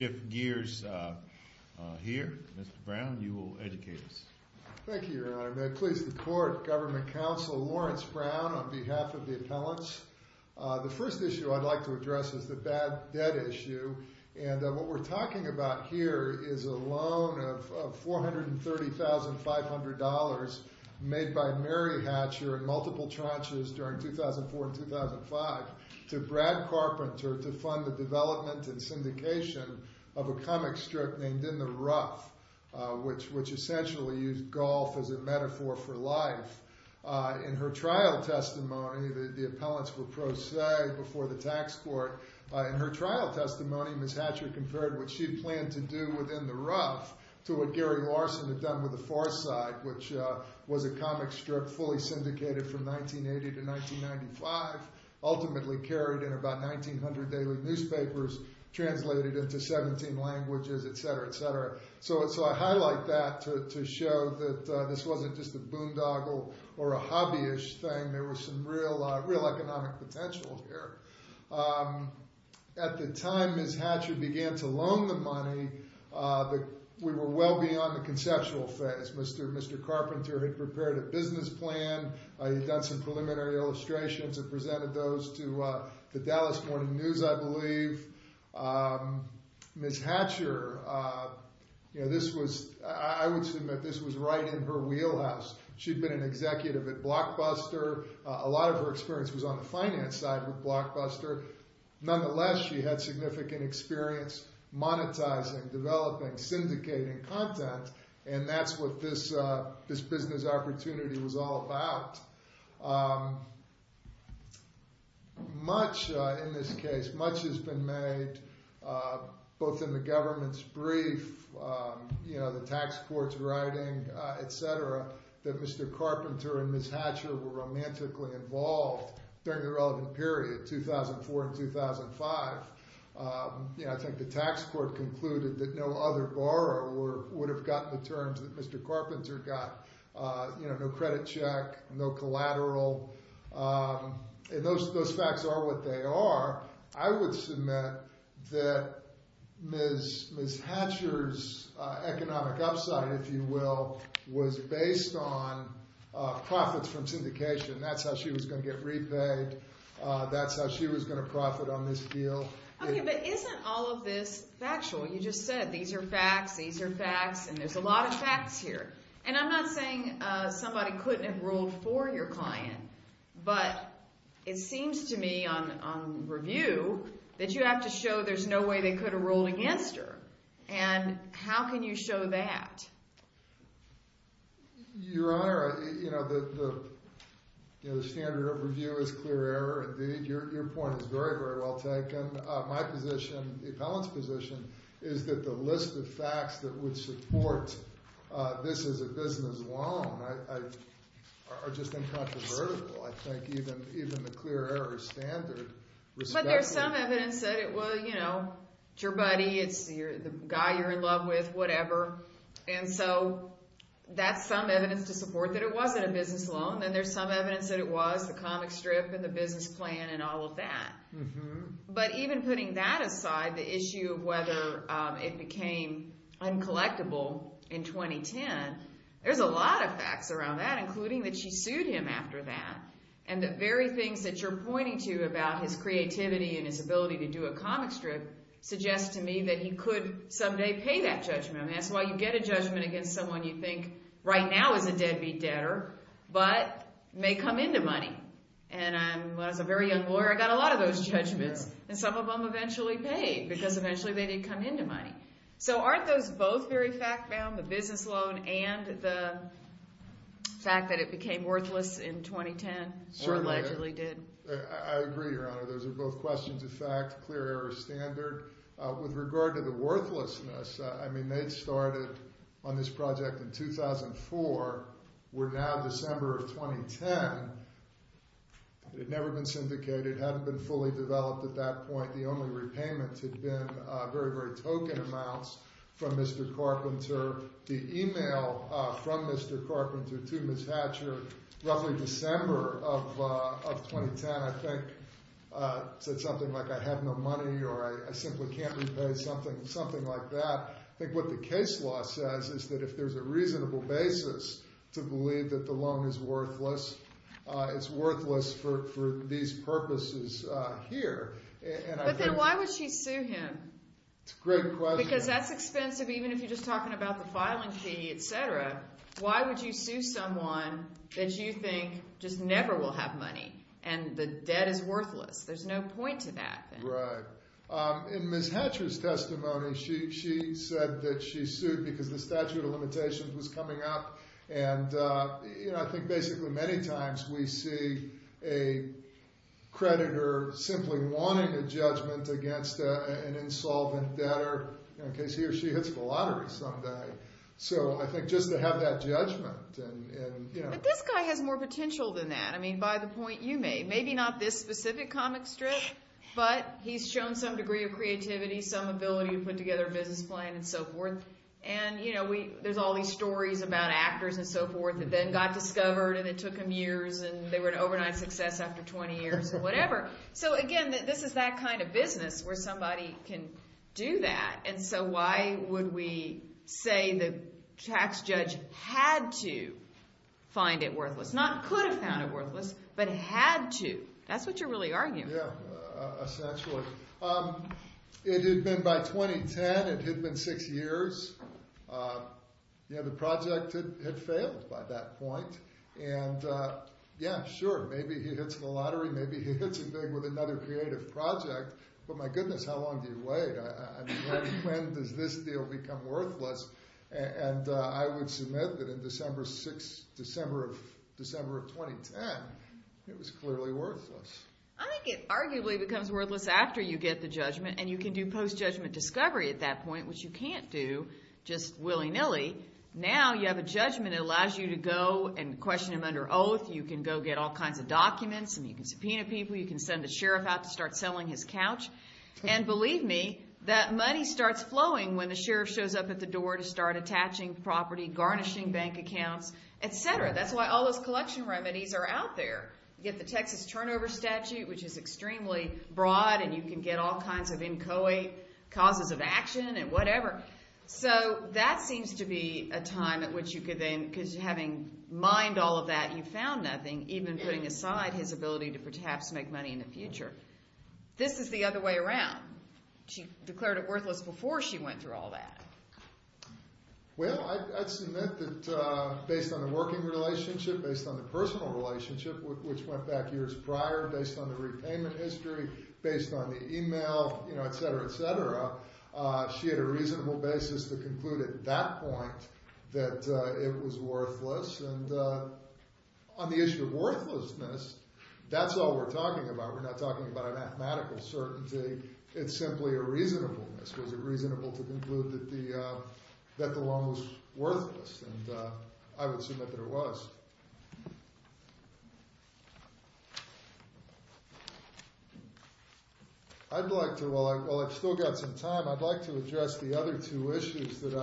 Steve Geers here. Mr. Brown, you will educate us. Thank you, Your Honor. May it please the Court, Government Counsel Lawrence Brown on behalf of the appellants. The first issue I'd like to address is the bad debt issue. What we're talking about here is a loan of $430,500 made by Mary Hatcher in multiple tranches during 2004 and the syndication of a comic strip named In the Rough, which essentially used golf as a metaphor for life. In her trial testimony, the appellants were pro se before the tax court. In her trial testimony, Ms. Hatcher compared what she planned to do with In the Rough to what Gary Larson had done with The Far Side, which was a comic strip fully syndicated from 1980 to 1995, ultimately carried in about 1,900 daily newspapers, translated into 17 languages, etc., etc. So I highlight that to show that this wasn't just a boondoggle or a hobby-ish thing. There was some real economic potential here. At the time Ms. Hatcher began to loan the money, we were well beyond the conceptual phase. Mr. Carpenter had prepared a business plan. He'd done some preliminary illustrations and presented those to the Dallas Morning News, I believe. Ms. Hatcher, I would assume that this was right in her wheelhouse. She'd been an executive at Blockbuster. A lot of her experience was on the finance side with Blockbuster. Nonetheless, she had significant experience monetizing, developing, syndicating content, and that's what this business opportunity was all about. Much in this case, much has been made, both in the government's brief, the tax court's writing, etc., that Mr. Carpenter and Ms. Hatcher were romantically involved during the relevant period, 2004 and 2005. I think the tax court concluded that no other borrower would have gotten the terms that Mr. Carpenter got. No credit check, no collateral. Those facts are what they are. I would submit that Ms. Hatcher's economic upside, if you will, was based on profits from syndication. That's how she was going to get repaid. That's how she was going to profit on this deal. Okay, but isn't all of this factual? You just said these are facts, these are facts, and there's a lot of facts here. I'm not saying somebody couldn't have ruled for your client, but it seems to me on review that you have to show there's no way they could have ruled against her. How can you show that? Your Honor, the standard of review is clear error. Indeed, your point is very, very well taken. My position, the appellant's position, is that the list of facts that would support this as a business loan are just incontrovertible. But there's some evidence that it was, you know, it's your buddy, it's the guy you're in love with, whatever, and so that's some evidence to support that it wasn't a business loan. Then there's some evidence that it was the comic strip and the business plan and all of that. But even putting that aside, the issue of whether it became uncollectible in 2010, there's a lot of facts around that, including that she sued him after that, and the very things that you're pointing to about his creativity and his ability to do a comic strip suggest to me that he could someday pay that judgment. I mean, that's why you get a judgment against someone you think right now is a deadbeat debtor, but may come into money. When I was a very young lawyer, I got a lot of those judgments, and some of them eventually paid, because eventually they did come into money. So aren't those both very fact-bound, the business loan and the fact that it became worthless in 2010, or allegedly did? I agree, Your Honor. Those are both questions of fact, clear error of standard. With regard to the worthlessness, I mean, they started on this project in 2004. We're now December of 2010. It had never been syndicated. It hadn't been fully developed at that point. The only repayments had been very, very token amounts from Mr. Carpenter. The email from Mr. Carpenter to Ms. Hatcher roughly December of 2010, I think, said something like, I have no money, or I simply can't repay, something like that. I think what the case law says is that if there's a reasonable basis to believe that the loan is worthless, it's worthless for these purposes here. But then why would she sue him? Because that's expensive, even if you're just talking about the filing fee, etc. Why would you sue someone that you think just never will have money, and the debt is worthless? There's no point to that. In Ms. Hatcher's testimony, she said that she sued because the statute of limitations was coming up. I think basically many times we see a creditor simply wanting a judgment against an insolvent debtor in case he or she hits the lottery someday. So I think just to have that judgment. But this guy has more potential than that, by the point you made. Maybe not this specific comic strip, but he's shown some degree of creativity, some ability to put together a business plan, and so forth. There's all these stories about actors and so forth that then got discovered, and it took them years, and they were an overnight success after 20 years. So again, this is that kind of business where somebody can do that. And so why would we say the tax judge had to find it worthless? Not could have found it worthless, but had to. That's what you're really arguing. It had been by 2010. It had been six years. The project had failed by that point. Yeah, sure, maybe he hits the lottery. Maybe he hits it big with another creative project. But my goodness, how long do you wait? When does this deal become worthless? I would submit that in December of 2010, it was clearly worthless. I think it arguably becomes worthless after you get the judgment, and you can do post-judgment discovery at that point, which you can't do just willy-nilly. Now you have a judgment that allows you to go and question him under oath. You can go get all kinds of documents, and you can subpoena people. You can send a sheriff out to start selling his couch. And believe me, that money starts flowing when the sheriff shows up at the door to start attaching property, garnishing bank accounts, et cetera. That's why all those collection remedies are out there. You get the Texas turnover statute, which is extremely broad, and you can get all kinds of inchoate causes of action and whatever. So that seems to be a time at which you could then, because having mined all of that, you found nothing, even putting aside his ability to perhaps make money in the future. This is the other way around. She declared it worthless before she went through all that. Well, I'd submit that based on the working relationship, based on the personal relationship, which went back years prior, based on the repayment history, based on the e-mail, et cetera, et cetera, she had a reasonable basis to conclude at that point that it was worthless. And on the issue of worthlessness, that's all we're talking about. We're not talking about a mathematical certainty. It's simply a reasonableness. Was it reasonable to conclude that the loan was worthless? And I would submit that it was. I'd like to, while I've still got some time, I'd like to address the other two issues that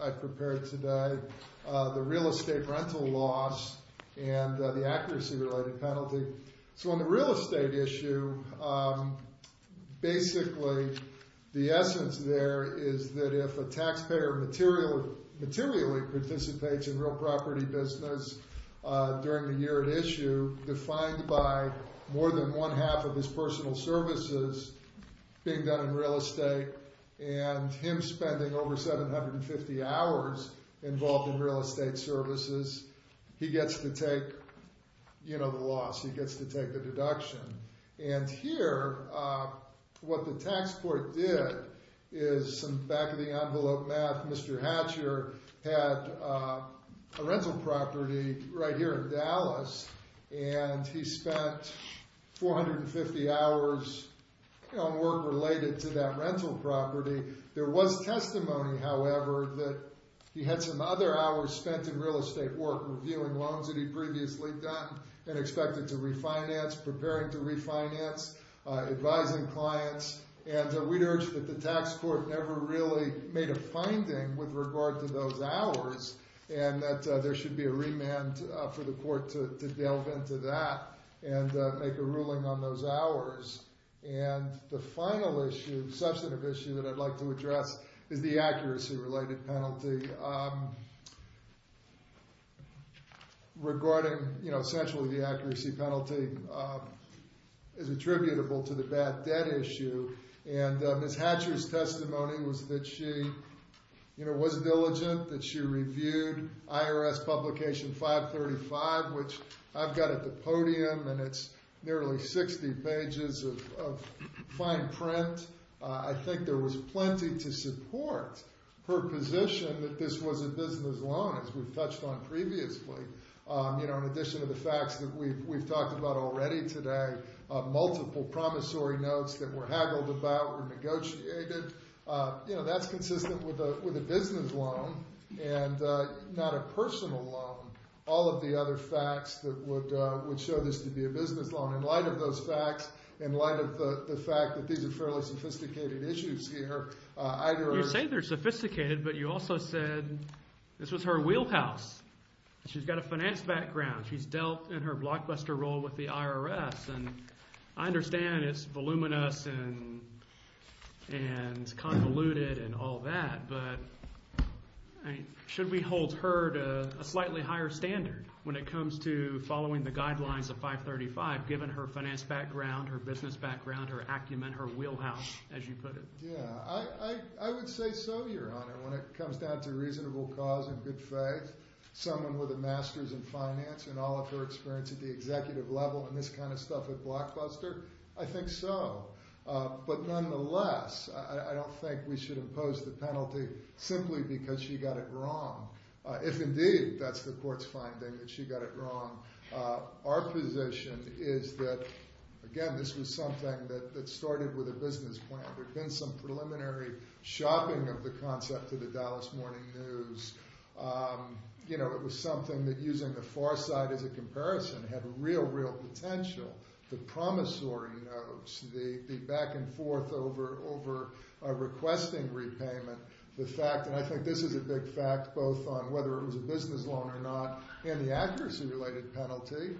I've prepared today, the real estate rental loss and the accuracy-related penalty. So on the real estate issue, basically the essence there is that if a taxpayer materially participates in real property business, during the year at issue, defined by more than one half of his personal services being done in real estate and him spending over 750 hours involved in real estate services, he gets to take the loss, he gets to take the deduction. And here, what the tax court did is, in some back-of-the-envelope math, Mr. Hatcher had a rental property right here in Dallas, and he spent 450 hours on work related to that rental property. There was testimony, however, that he had some other hours spent in real estate work, reviewing loans that he'd previously done and expected to refinance, preparing to refinance, advising clients, and we'd urge that the tax court never really made a finding with regard to those hours, and that there should be a remand for the court to delve into that and make a ruling on those hours. And the final issue, substantive issue, that I'd like to address is the accuracy-related penalty. Essentially, the accuracy penalty is attributable to the bad debt issue, and Ms. Hatcher's testimony was that she was diligent, that she reviewed IRS Publication 535, which I've got at the podium, and it's nearly 60 pages of fine print. I think there was plenty to support her position that this was a business loan, as we've touched on previously. In addition to the facts that we've talked about already today, multiple promissory notes that were haggled about and negotiated, that's consistent with a business loan and not a personal loan, all of the other facts that would show this to be a business loan. In light of those facts, in light of the fact that these are fairly sophisticated issues here, either... You say they're sophisticated, but you also said this was her wheelhouse. She's got a finance background. She's dealt in her blockbuster role with the IRS, and I understand it's voluminous and convoluted and all that, but should we hold her to a slightly higher standard when it comes to following the guidelines of 535, given her finance background, her business background, her acumen, her wheelhouse, as you put it? Yeah, I would say so, Your Honor, when it comes down to reasonable cause and good faith, someone with a master's in finance and all of her experience at the executive level and this kind of stuff at Blockbuster, I think so. But nonetheless, I don't think we should impose the penalty simply because she got it wrong, if indeed that's the court's finding, that she got it wrong. Our position is that, again, this was something that started with a business plan. There'd been some preliminary shopping of the concept of the Dallas Morning News. It was something that using the far side as a way to speak back and forth over requesting repayment. The fact, and I think this is a big fact, both on whether it was a business loan or not and the accuracy-related penalty,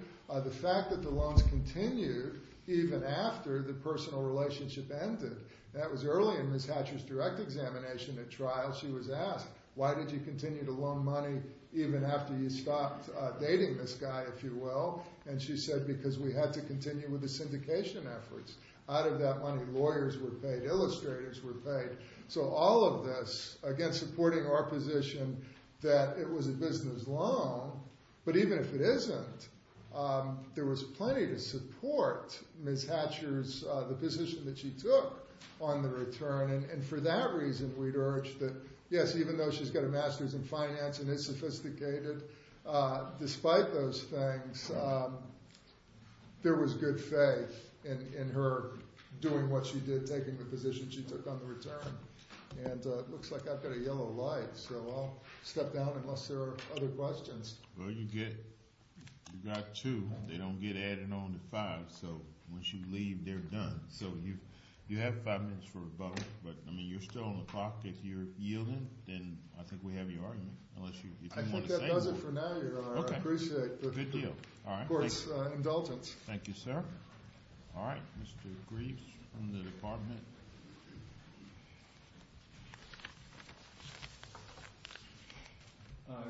the fact that the loans continued even after the personal relationship ended. That was early in Ms. Hatcher's direct examination at trial. She was asked, why did you continue to loan money even after you stopped dating this guy, if you will? And she said, because we had to continue with the syndication efforts. Out of that money, lawyers were paid, illustrators were paid. So all of this, again, supporting our position that it was a business loan. But even if it isn't, there was plenty to support Ms. Hatcher's, the position that she took on the return. And for that reason, we'd urge that, yes, even though she's got a master's in finance and is sophisticated, despite those things, there was good faith in her doing what she did, taking the position she took on the return. And it looks like I've got a yellow light, so I'll step down unless there are other questions. Well, you've got two. They don't get added on to five, so once you leave, they're done. So you have five minutes for rebuttal, but you're still on the clock. If you're yielding, then I think we have your argument, unless you want to say more. I think that does it for now, Your Honor. I appreciate the court's indulgence. Thank you, sir. Mr. Greaves from the Department.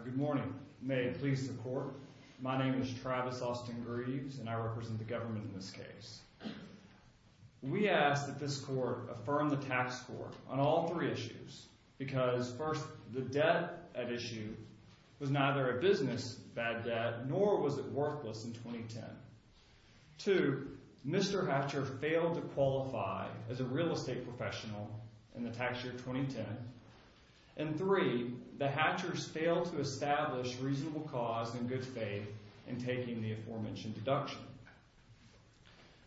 Good morning. May it please the Court, my name is Travis Austin Greaves, and I represent the government in this case. We ask that this Court affirm the tax score on all three issues, because first, the debt at issue was neither a business bad debt nor was it worthless in 2010. Two, Mr. Hatcher failed to qualify as a real estate professional in the tax year 2010, and three, the Hatchers failed to establish reasonable cause in good faith in taking the aforementioned deduction.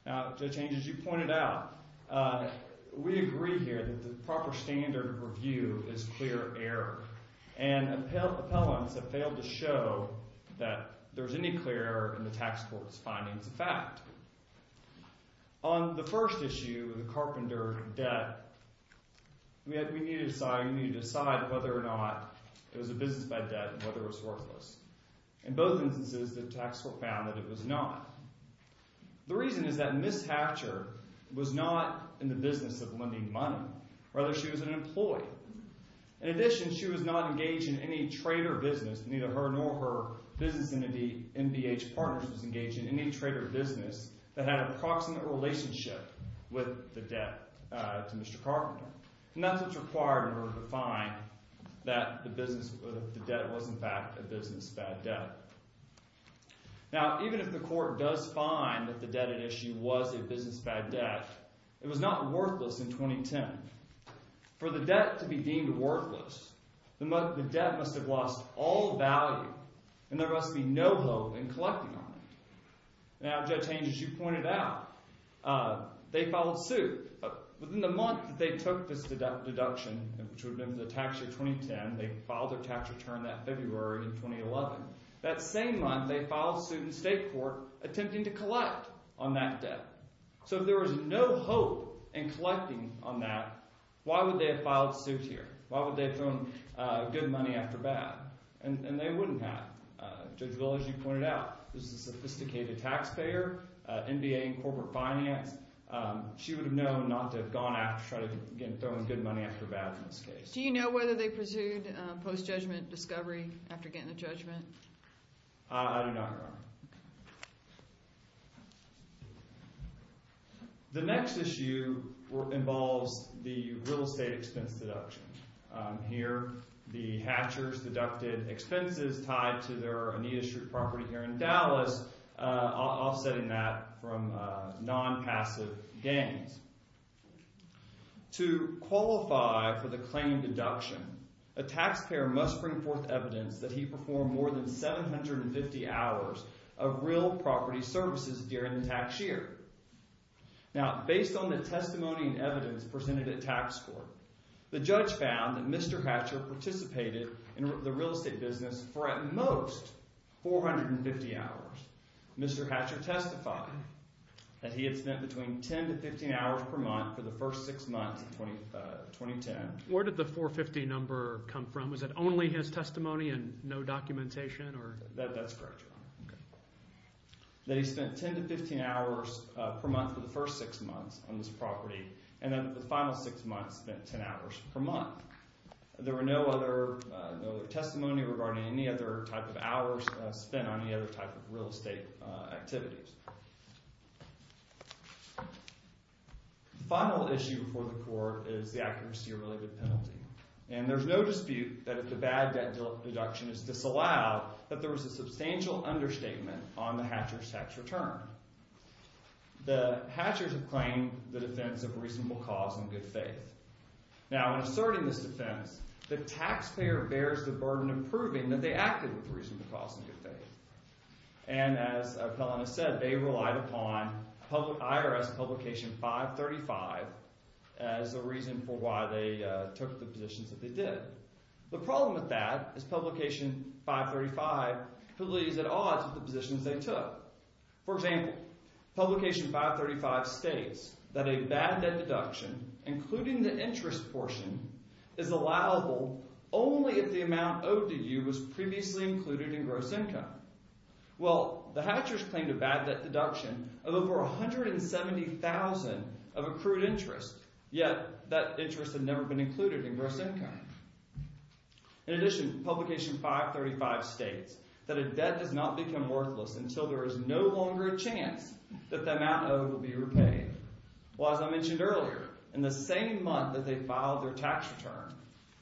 Now, Judge Haines, as you pointed out, we agree here that the proper standard of review is clear error, and appellants have failed to show that there's any clear error in the tax court's findings of fact. On the first issue, the carpenter debt, we need to decide whether or not it was a business bad debt and whether it was worthless. In both instances, the tax court found that it was not. The reason is that Ms. Hatcher was not in the business of lending money. Rather, she was an employee. In addition, she was not engaged in any trader business, neither her nor her business entity, MBH Partners, was engaged in any trader business that had an approximate relationship with the debt to Mr. Carpenter. And that's what's required in order to find that the debt was, in fact, a business bad debt. Now, even if the court does find that the debt at issue was a business bad debt, it was not worthless in 2010. For the debt to be deemed worthless, the debt must have lost all value, and there must be no hope in collecting on it. Now, Judge Haines, as you pointed out, they filed suit. Within the month that they took this deduction, which would have been the tax year 2010, they filed their tax return that February in 2011. That same month, they filed suit in state court, attempting to collect on that debt. So if there was no hope in collecting on that, why would they have filed suit here? Why would they have thrown good money after bad? And they wouldn't have. Judge Willow, as you pointed out, is a sophisticated taxpayer, MBA in corporate finance. She would have known not to have gone after, thrown good money after bad in this case. Do you know whether they pursued post-judgment discovery after getting the judgment? I do not, Your Honor. The next issue involves the real estate expense deduction. Here, the Hatchers deducted expenses tied to their Anita Street property here in Dallas, offsetting that from non-passive gains. To qualify for the claim deduction, a taxpayer must bring forth evidence that he performed more than 750 hours of real property services during the tax year. Now, based on the testimony and evidence presented at tax court, the judge found that Mr. Hatcher participated in the real estate business for at most 450 hours. Mr. Hatcher testified that he had spent between 10 to 15 hours per month for the first six months of 2010. Where did the 450 number come from? Was it only his testimony and no documentation? That's correct, Your Honor. That he spent 10 to 15 hours per month for the first six months on this property, and then the final six months spent 10 hours per month. There were no other testimony regarding any other type of hours spent on any other type of real estate activities. The final issue before the court is the accuracy-related penalty. And there's no dispute that if the bad debt deduction is disallowed, that there was a substantial understatement on the Hatcher's tax return. The Hatchers have claimed the defense of reasonable cause and good faith. Now, in asserting this defense, the taxpayer bears the burden of proving that they acted with reasonable cause and good faith. And as Appellant has said, they relied upon IRS Publication 535 as a reason for why they took the positions that they did. The problem with that is Publication 535 believes at odds with the positions they took. For example, Publication 535 states that a bad debt deduction, including the interest portion, is allowable only if the amount owed to you was previously included in gross income. Well, the Hatchers claimed a bad debt deduction of over $170,000 of accrued interest, yet that interest had never been included in gross income. In addition, Publication 535 states that a debt does not become worthless until there is no longer a chance that the amount owed will be repaid. Well, as I mentioned earlier, in the same month that they filed their tax return,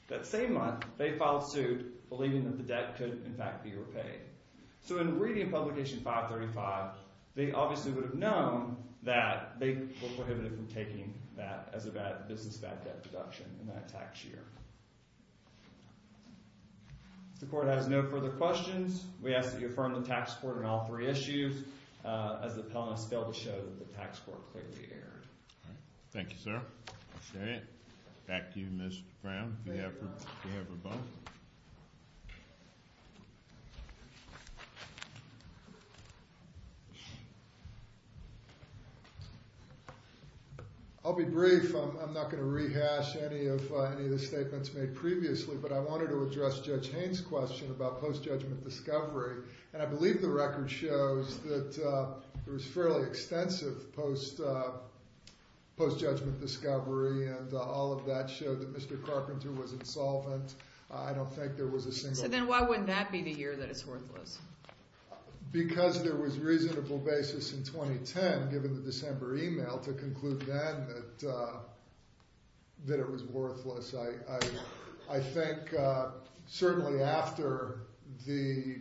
that same month, they filed suit believing that the debt could, in fact, be repaid. So in reading Publication 535, they obviously would have known that they The court has no further questions. We ask that you affirm the tax report on all three issues as the Pelhamists fail to show that the tax report clearly erred. Thank you, sir. I'll share it. Back to you, Mr. Brown. I'll be brief. I'm not going to rehash any of the statements made previously, but I wanted to address Judge Haynes' question about post-judgment discovery, and I believe the record shows that there was fairly extensive post-judgment discovery, and all of that showed that Mr. Carpenter was insolvent. I don't think there was a single So then why wouldn't that be the year that it's worthless? Because there was reasonable basis in 2010, given the December email, to conclude then that it was worthless. I think certainly after the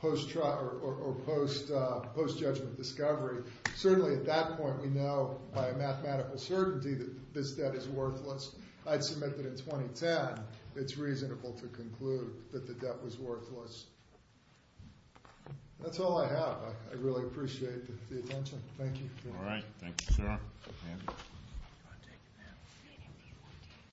post-judgment discovery, certainly at that point we know by a mathematical certainty that this debt is worthless. I'd submit that in 2010, it's reasonable to conclude that the debt was worthless. That's all I have. I really appreciate the attention. Thank you. All right. Thank you, sir.